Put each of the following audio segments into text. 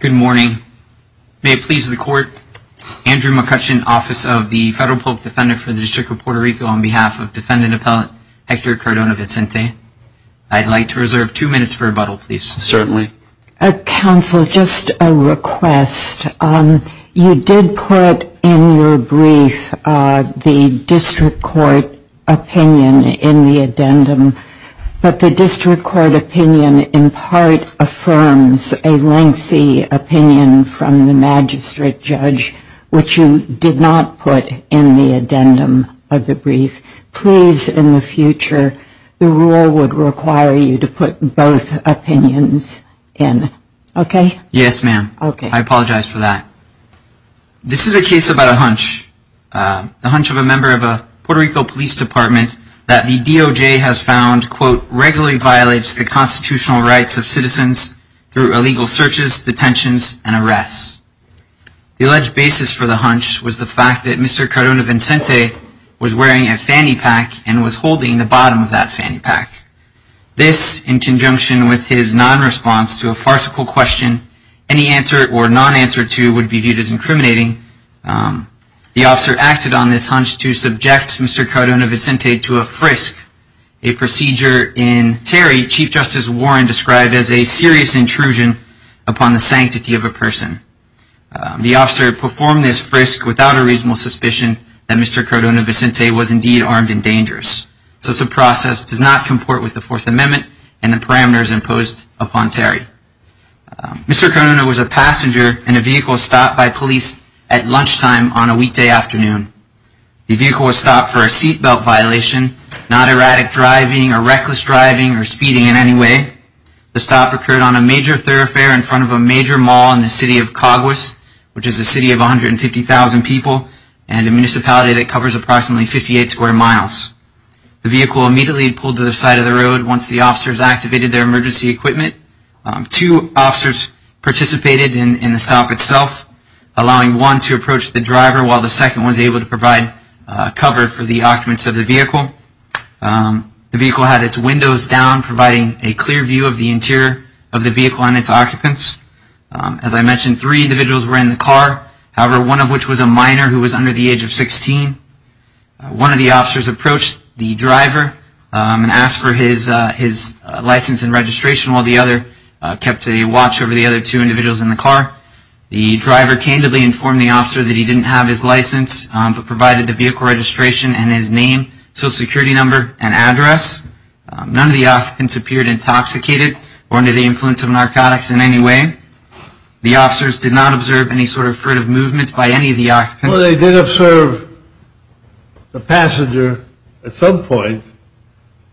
Good morning. May it please the Court, Andrew McCutcheon, Office of the Federal Public Defender for the District of Puerto Rico, on behalf of Defendant Appellate Hector Cardona-Vicente, I'd like to reserve two minutes for rebuttal, please. Certainly. Counsel, just a request. You did put in your brief the District Court opinion in the addendum, but the District Court opinion in part affirms a lengthy opinion from the magistrate judge, which you did not put in the addendum of the brief. Please, in the future, the rule would require you to put both opinions in. Okay? Yes, ma'am. Okay. I apologize for that. This is a case about a hunch, the hunch of a member of a Puerto Rico Police Department, that the DOJ has found, quote, regularly violates the constitutional rights of citizens through illegal searches, detentions, and arrests. The alleged basis for the hunch was the fact that Mr. Cardona-Vicente was wearing a fanny pack and was holding the bottom of that fanny pack. This, in conjunction with his non-response to a farcical question, any answer or non-answer to would be viewed as incriminating. The officer acted on this hunch to subject Mr. Cardona-Vicente to a frisk, a procedure in Terry Chief Justice Warren described as a serious intrusion upon the sanctity of a person. The officer performed this frisk without a reasonable suspicion that Mr. Cardona-Vicente was indeed armed and dangerous. This process does not comport with the Fourth Amendment and the parameters imposed upon Terry. Mr. Cardona was a passenger in a vehicle stopped by police at lunchtime on a weekday afternoon. The vehicle was stopped for a seat belt violation, not erratic driving or reckless driving or speeding in any way. The stop occurred on a major thoroughfare in front of a major mall in the city of Caguas, which is a city of 150,000 people and a municipality that covers approximately 58 square miles. The vehicle immediately pulled to the side of the road once the officers activated their emergency equipment. Two officers participated in the stop itself, allowing one to approach the driver while the second was able to provide cover for the occupants of the vehicle. The vehicle had its windows down, providing a clear view of the interior of the vehicle and its occupants. As I mentioned, three individuals were in the car, however, one of which was a minor who was under the age of 16. One of the officers approached the driver and asked for his license and registration while the other kept a watch over the other two individuals in the car. The driver candidly informed the officer that he didn't have his license but provided the vehicle registration and his name, social security number, and address. None of the occupants appeared intoxicated or under the influence of narcotics in any way. The officers did not observe any sort of furtive movements by any of the occupants. Well, they did observe the passenger at some point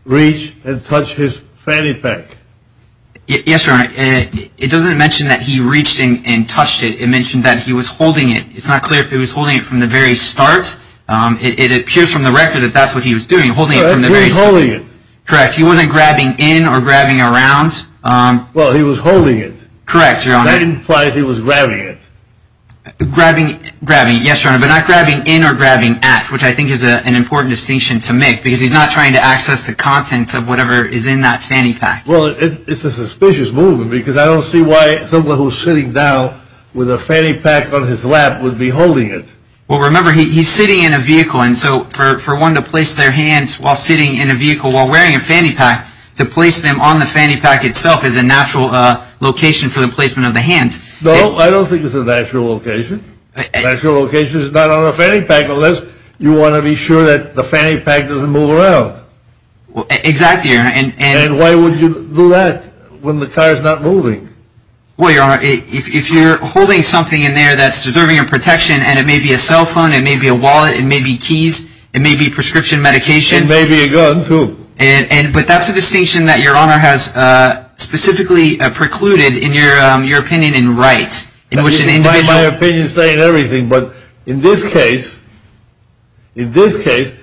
reach and touch his fanny pack. Yes, Your Honor. It doesn't mention that he reached and touched it. It mentioned that he was holding it. It's not clear if he was holding it from the very start. It appears from the record that that's what he was doing, holding it from the very start. He wasn't holding it. Correct. He wasn't grabbing in or grabbing around. Well, he was holding it. Correct, Your Honor. That implies he was grabbing it. Grabbing, yes, Your Honor, but not grabbing in or grabbing at, which I think is an important distinction to make because he's not trying to access the contents of whatever is in that fanny pack. Well, it's a suspicious movement because I would be holding it. Well, remember, he's sitting in a vehicle, and so for one to place their hands while sitting in a vehicle while wearing a fanny pack, to place them on the fanny pack itself is a natural location for the placement of the hands. No, I don't think it's a natural location. Natural location is not on a fanny pack unless you want to be sure that the fanny pack doesn't move around. Exactly, Your Honor. And why would you do that when the car is not holding? Well, Your Honor, if you're holding something in there that's deserving of protection, and it may be a cell phone, it may be a wallet, it may be keys, it may be prescription medication. It may be a gun, too. And, but that's a distinction that Your Honor has specifically precluded in your opinion in Wright, in which an individual... My opinion is saying everything, but in this case, in this case,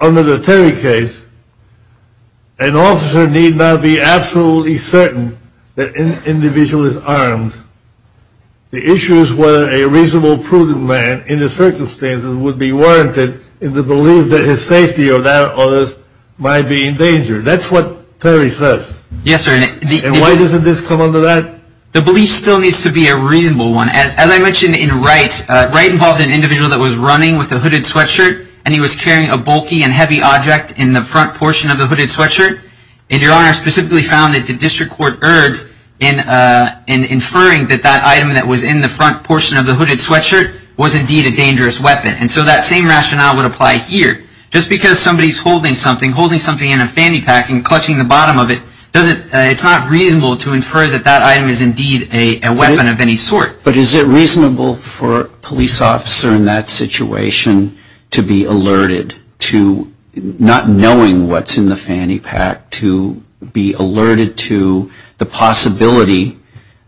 under the Terry case, an officer need not be absolutely certain that an individual is armed. The issue is whether a reasonable, prudent man in the circumstances would be warranted in the belief that his safety or that of others might be in danger. That's what Terry says. Yes, sir. And why doesn't this come under that? The belief still needs to be a reasonable one. As I mentioned in the case with the hooded sweatshirt, and he was carrying a bulky and heavy object in the front portion of the hooded sweatshirt, and Your Honor specifically found that the district court errs in inferring that that item that was in the front portion of the hooded sweatshirt was indeed a dangerous weapon. And so that same rationale would apply here. Just because somebody's holding something, holding something in a fanny pack and clutching the bottom of it, it's not reasonable to infer that that item is indeed a weapon of any sort. But is it unreasonable in this situation to be alerted to, not knowing what's in the fanny pack, to be alerted to the possibility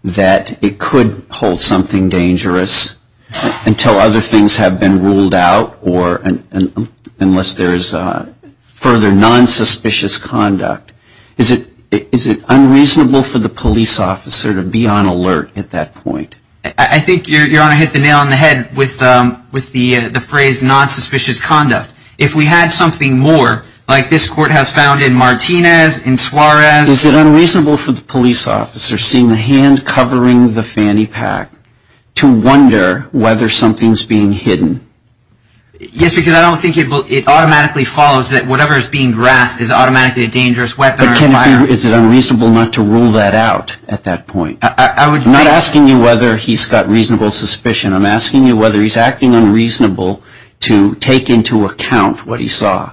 that it could hold something dangerous until other things have been ruled out or unless there's further nonsuspicious conduct? Is it unreasonable for the police officer to be on alert at that point? I think Your Honor hit the nail on the head with the phrase nonsuspicious conduct. If we had something more, like this court has found in Martinez, in Suarez. Is it unreasonable for the police officer, seeing the hand covering the fanny pack, to wonder whether something's being hidden? Yes, because I don't think it automatically follows that whatever's being grasped is automatically a dangerous weapon or firearm. But is it unreasonable not to rule that out at that point? I'm not sure whether he's acting unreasonable to take into account what he saw.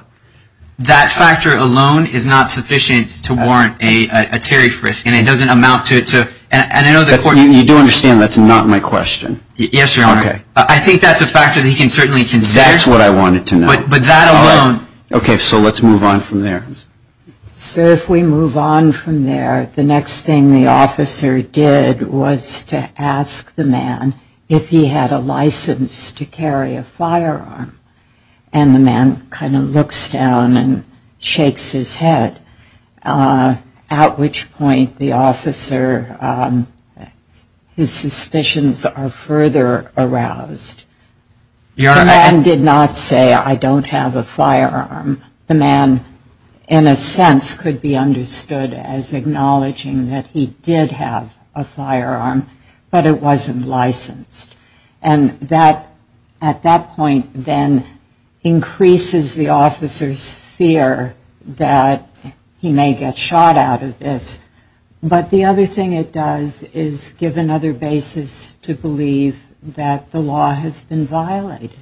That factor alone is not sufficient to warrant a Terry Frisk, and it doesn't amount to it. You do understand that's not my question? Yes, Your Honor. I think that's a factor that he can certainly consider. That's what I wanted to know. But that alone. Okay, so let's move on from there. So if we move on from there, the next thing the officer did was to ask the man if he was licensed to carry a firearm. And the man kind of looks down and shakes his head, at which point the officer, his suspicions are further aroused. The man did not say, I don't have a firearm. The man, in a sense, could be understood as acknowledging that he did have a firearm, but it wasn't licensed. And that, at that point, then increases the officer's fear that he may get shot out of this. But the other thing it does is give another basis to believe that the law has been violated,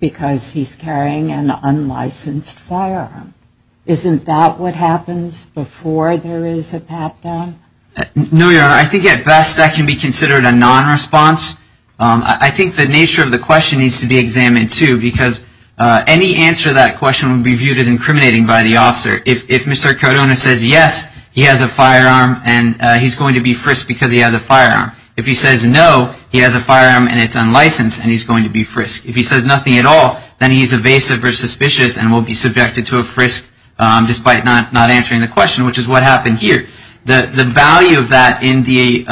because he's carrying an So does that mean that it happens before there is a pat-down? No, Your Honor. I think at best that can be considered a nonresponse. I think the nature of the question needs to be examined, too, because any answer to that question would be viewed as incriminating by the officer. If Mr. Cardona says yes, he has a firearm and he's going to be frisked because he has a firearm. If he says no, he has a firearm and it's not answering the question, which is what happened here. The value of that in the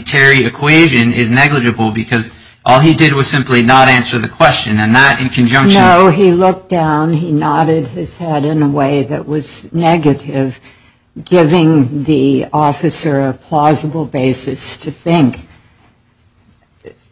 Terry equation is negligible, because all he did was simply not answer the question. And that, in conjunction with No, he looked down, he nodded his head in a way that was negative, giving the officer a plausible basis to think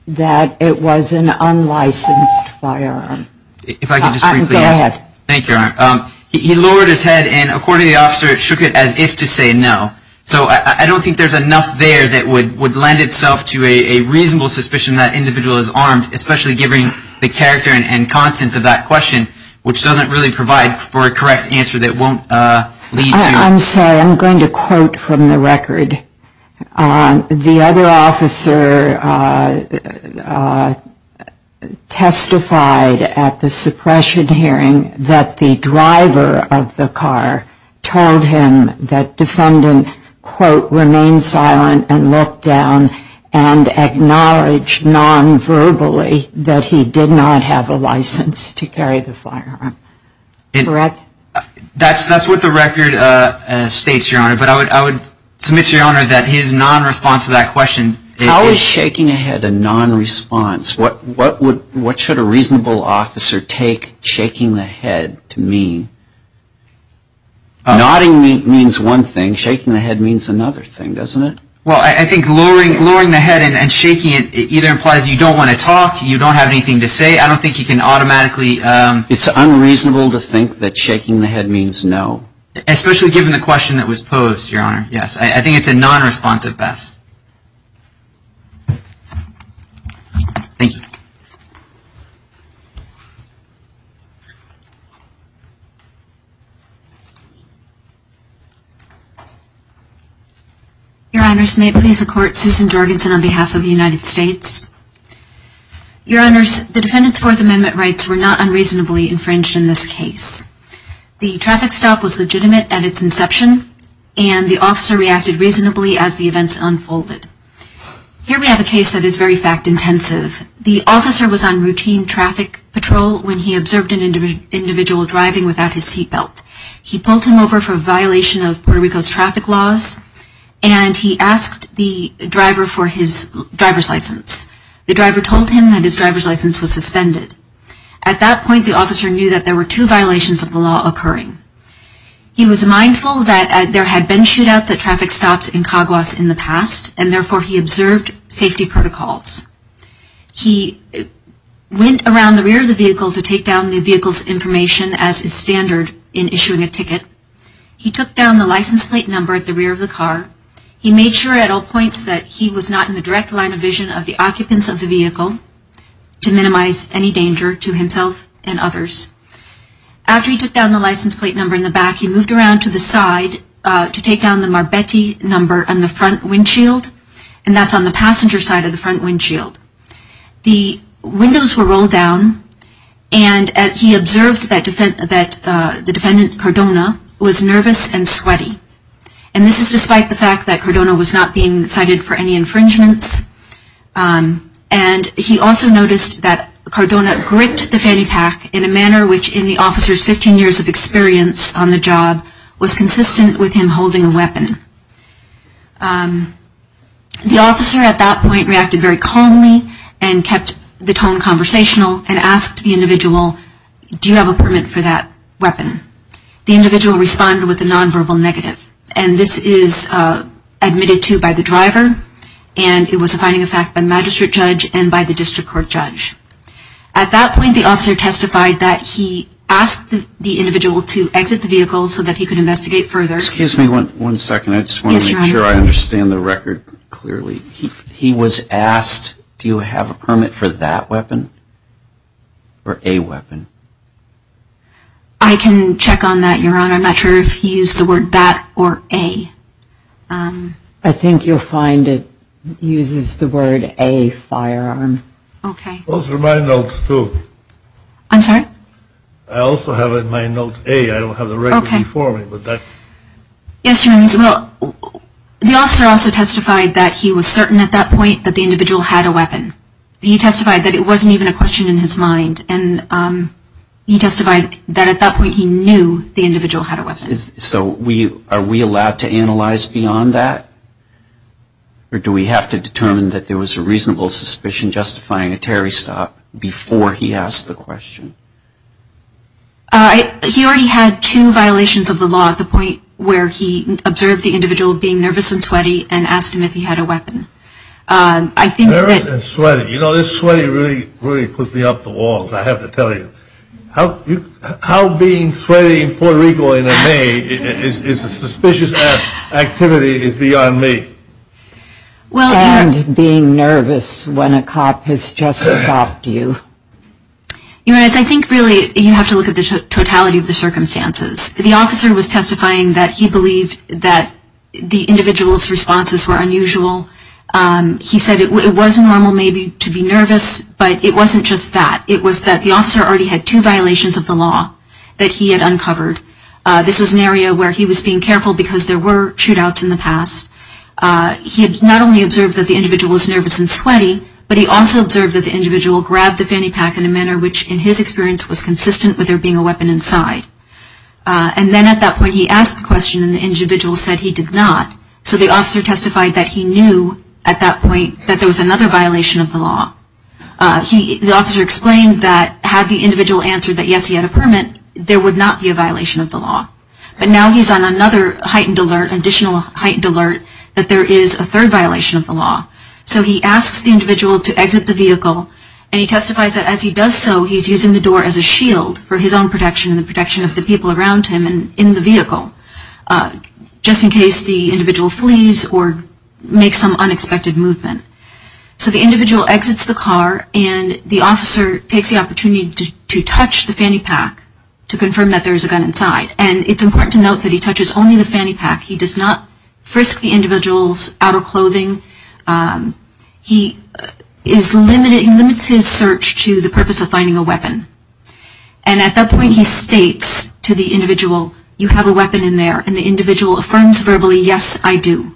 that it was an unlicensed firearm. If I could just briefly answer Go ahead. Thank you, Your Honor. He lowered his head, and according to the officer, it shook it as if to say no. So I don't think there's enough there that would lend itself to a reasonable suspicion that that individual is armed, especially given the character and content of that question, which doesn't really provide for a correct answer that won't lead to I'm sorry. I'm going to quote from the record. The other officer testified at the suppression hearing that the driver of the car told him that defendant, quote, remained silent and looked down and acknowledged nonverbally that he did not have a license to carry the firearm. Correct? That's what the record states, Your Honor. But I would submit to Your Honor that his nonresponse to that question How is shaking a head a nonresponse? What should a reasonable officer take shaking the head to mean? Nodding means one thing. Shaking the head means another thing, doesn't it? Well, I think lowering the head and shaking it either implies you don't want to talk, you don't have anything to say. I don't think you can automatically It's unreasonable to think that shaking the head means no. Especially given the question that was posed, Your Honor. Yes. I think it's a nonresponsive best. Thank you. Your Honors, may it please the Court, Susan Jorgensen on behalf of the United States. Your Honors, the defendant's Fourth Amendment rights were not unreasonably infringed in this case. The traffic stop was legitimate at its inception, and the officer reacted reasonably as the events unfolded. Here we have a case that is very fact intensive. The officer was on routine traffic patrol when he observed an individual driving without his seat belt. He pulled him over for a violation of Puerto Rico's traffic laws, and he asked the driver for his driver's license. The driver told him that his driver's license was suspended. At that point, the officer knew that there had been shootouts at traffic stops in Caguas in the past, and therefore he observed safety protocols. He went around the rear of the vehicle to take down the vehicle's information as is standard in issuing a ticket. He took down the license plate number at the rear of the car. He made sure at all points that he was not in the direct line of vision of the occupants of the vehicle to minimize any danger to himself and others. After he took down the license plate number in the back, he moved around to the side to take down the Marbeti number on the front windshield, and that's on the passenger side of the front windshield. The windows were rolled down, and he observed that the defendant, Cardona, was nervous and sweaty. And this is despite the fact that Cardona was not being cited for any infringements. And he also noticed that Cardona gripped the fanny pack in a manner which in the infringements. The officer's experience on the job was consistent with him holding a weapon. The officer at that point reacted very calmly and kept the tone conversational and asked the individual, do you have a permit for that weapon? The individual responded with a nonverbal negative. And this is what he did. He asked the individual to exit the vehicle so that he could investigate further. Excuse me one second. I just want to make sure I understand the record clearly. He was asked, do you have a permit for that weapon or a weapon? I can check on that, Your Honor. I'm not sure if he used the word that or a. I think you'll find it uses the word a firearm. Okay. Those are my notes, too. I'm sorry? I also have it in my note a. I don't have the record before me. Yes, Your Honor. The officer also testified that he was certain at that point that the individual had a weapon. He testified that it wasn't even a question in his mind. And he testified that at that point he knew the individual had a weapon. So are we allowed to analyze beyond that? Or do we have to determine that there was a reasonable suspicion justifying a terrorist stop before he asked the question? He already had two violations of the law at the point where he observed the individual being nervous and sweaty and asked him if he had a weapon. I think that Nervous and sweaty. You know, this sweaty really put me up the wall, I have to tell you. How being sweaty in Puerto Rico in May is a suspicious activity is beyond me. And being nervous when a cop has just stopped you. Your Honor, I think really you have to look at the totality of the circumstances. The officer was testifying that he believed that the individual's responses were unusual. He said it was normal maybe to be nervous, but it wasn't just that. It was that the officer already had two violations of the law that he had uncovered. This was an area where he was being careful because there were shootouts in the past. He had not only observed that the individual was nervous and sweaty, but he also observed that the individual grabbed the fanny pack in a manner which in his experience was consistent with there being a weapon inside. And then at that point he asked the question and the individual said he did not. So the officer testified that he knew at that point that there was another violation of the law. The officer explained that had the individual answered that yes, he had a permit, there would not be a violation of the law. The officer testified that there was another heightened alert, additional heightened alert, that there is a third violation of the law. So he asks the individual to exit the vehicle and he testifies that as he does so he is using the door as a shield for his own protection and the protection of the people around him and in the vehicle just in case the individual flees or makes some unexpected movement. So the individual uses only the fanny pack. He does not frisk the individual's outer clothing. He is limited, he limits his search to the purpose of finding a weapon. And at that point he states to the individual you have a weapon in there and the individual affirms verbally yes, I do.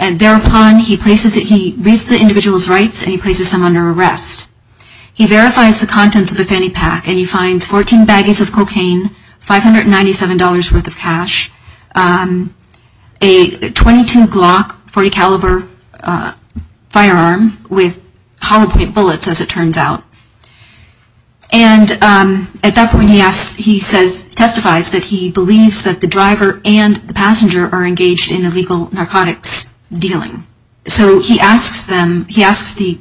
And thereupon he places, he reads the individual's rights and he places them under arrest. He verifies the contents of the fanny pack and he finds 14 baggies of cash, a .22 Glock .40 caliber firearm with hollow point bullets as it turns out. And at that point he says, he testifies that he believes that the driver and the passenger are engaged in illegal narcotics dealing. So he asks the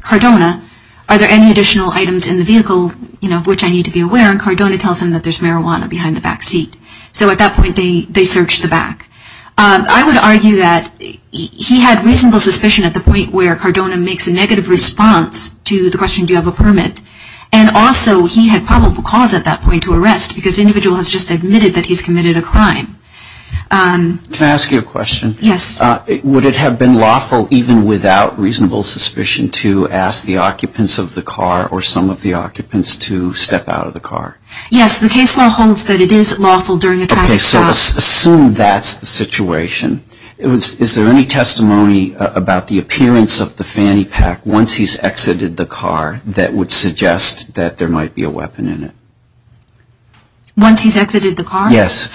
Cardona are there any additional items in the vehicle of which I need to be aware and Cardona tells him that there is marijuana behind the vehicle. And at that point they search the back. I would argue that he had reasonable suspicion at the point where Cardona makes a negative response to the question do you have a permit. And also he had probable cause at that point to arrest because the individual has just admitted that he's committed a crime. Can I ask you a question? Yes. Would it have been lawful even without reasonable suspicion to ask the occupants of the car or some of the occupants to step out of the car? Yes. The case law holds that it is lawful during a traffic stop. Okay. So assume that's the situation. Is there any testimony about the appearance of the fanny pack once he's exited the car that would suggest that there might be a weapon in it? Once he's exited the car? Yes.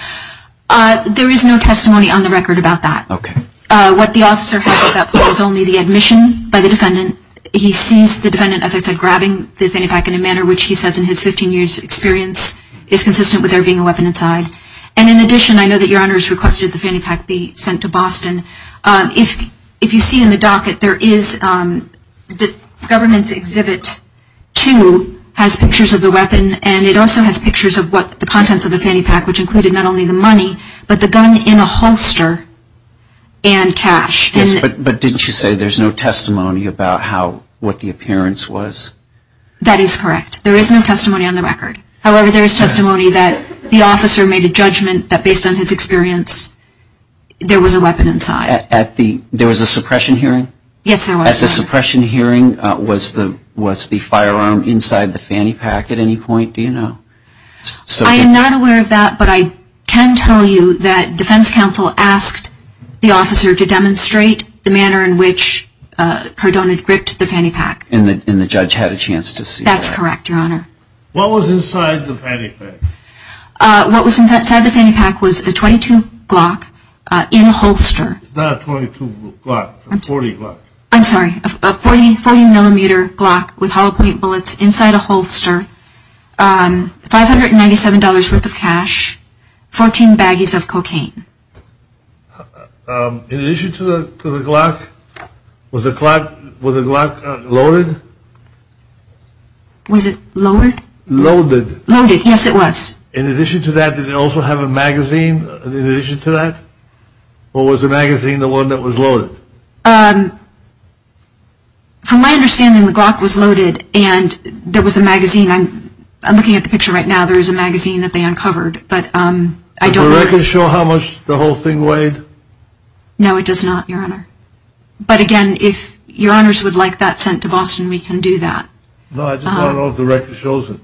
There is no testimony on the record about that. Okay. What the officer has at that point is only the admission by the defendant. He sees the defendant, as I said, grabbing the fanny pack in a manner which he says in his 15 years' experience is consistent with there being a weapon inside. And in addition, I know that Your Honor has requested the fanny pack be sent to Boston. If you see in the docket, there is the government's exhibit 2 has pictures of the weapon and it also has pictures of what the contents of the fanny pack, which included not only the money but the gun in a holster and cash. Yes. But didn't you say there's no testimony about how what the appearance was? That is correct. There is no testimony on the record. However, there is testimony that the officer made a judgment that based on his experience there was a weapon inside. There was a suppression hearing? Yes, there was. At the suppression hearing was the firearm inside the fanny pack at any point? Do you know? I am not aware of that, but I can tell you that defense counsel asked the officer to demonstrate the manner in which Cardone had gripped the fanny pack. And the judge had a chance to see that? That's correct, Your Honor. What was inside the fanny pack? What was inside the fanny pack was a .22 Glock in a holster. It's not a .22 Glock. It's a .40 Glock. I'm sorry. A .40 millimeter Glock with hollow point bullets inside a holster, $597 worth of cash, 14 baggies of cocaine. In addition to the Glock, was the Glock loaded? Was it lowered? Loaded. Loaded. Yes, it was. In addition to that, did it also have a magazine in addition to that? Or was the magazine the one that was loaded? From my understanding, the Glock was loaded and there was a magazine. I'm looking at the picture right now. There is a magazine that they uncovered. Does the record show how much the whole thing weighed? No, it does not, Your Honor. But, again, if Your Honors would like that sent to Boston, we can do that. No, I just want to know if the record shows it.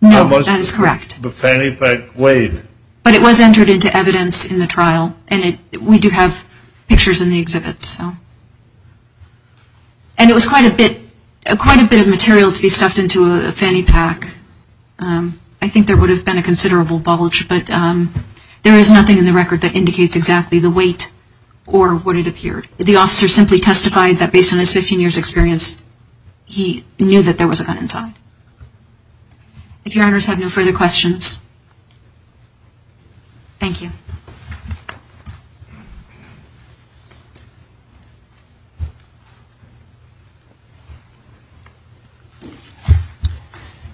No, that is correct. How much the fanny pack weighed. But it was entered into evidence in the trial. And we do have pictures in the exhibit. And it was quite a bit of material to be stuffed into a fanny pack. I think there would have been a considerable bulge. But there is nothing in the record that indicates exactly the weight or what it appeared. The officer simply testified that based on his 15 years' experience, he knew that there was a gun inside. If Your Honors have no further questions. Thank you.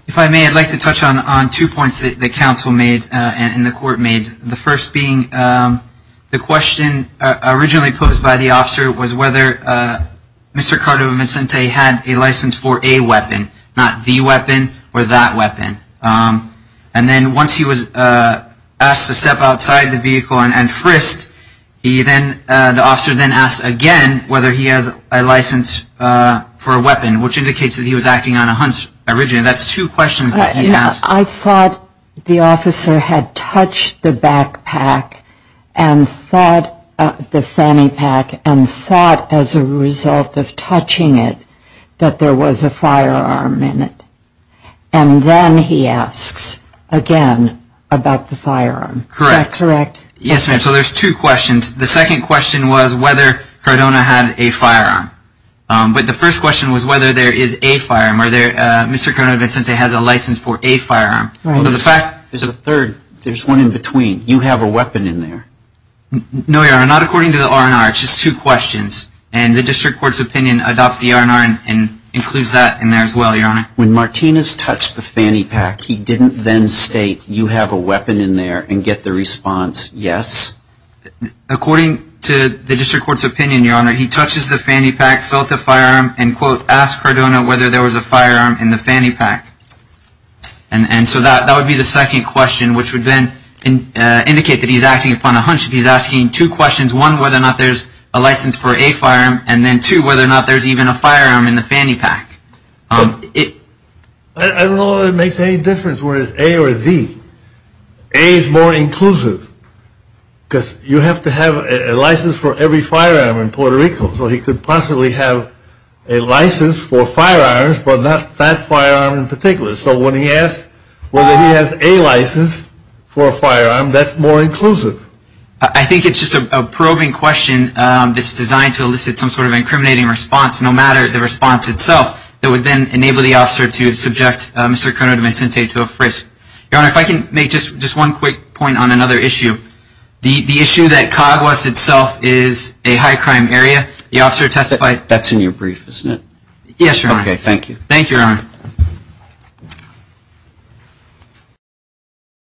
If I may, I'd like to touch on two points that the counsel made and the court made. The first being the question originally posed by the officer was whether Mr. Cardova-Vincente had a license for a weapon, not the weapon or that weapon. And then once he was asked to step outside the vehicle, and frisked, the officer then asked again whether he has a license for a weapon, which indicates that he was acting on a hunch originally. That's two questions that he asked. I thought the officer had touched the back pack, the fanny pack, and thought as a result of touching it that there was a firearm in it. And then he asks again about the firearm. Correct. Yes, ma'am. So there's two questions. The second question was whether Cardona had a firearm. But the first question was whether there is a firearm. Mr. Cardova-Vincente has a license for a firearm. There's a third. There's one in between. You have a weapon in there. No, Your Honor. Not according to the R&R. It's just two questions. And the district court's opinion adopts the R&R and includes that in there as well, Your Honor. When Martinez touched the fanny pack, he didn't then state you have a weapon in there and get the response yes? According to the district court's opinion, Your Honor, he touches the fanny pack, felt the firearm, and, quote, asked Cardona whether there was a firearm in the fanny pack. And so that would be the second question, which would then indicate that he's acting upon a hunch. He's asking two questions, one, whether or not there's a license for a firearm, and then, two, whether or not there's even a firearm in the fanny pack. I don't know whether it makes any difference whether it's A or a B. A is more inclusive because you have to have a license for every firearm in Puerto Rico so he could possibly have a license for firearms but not that firearm in particular. So when he asks whether he has a license for a firearm, that's more inclusive. I think it's just a probing question that's designed to elicit some sort of incriminating response, no matter the response itself, that would then enable the officer to subject Mr. Cardona-Vincente to a frisk. Your Honor, if I can make just one quick point on another issue. The issue that Caguas itself is a high-crime area, the officer testified— That's in your brief, isn't it? Yes, Your Honor. Okay, thank you. Thank you, Your Honor.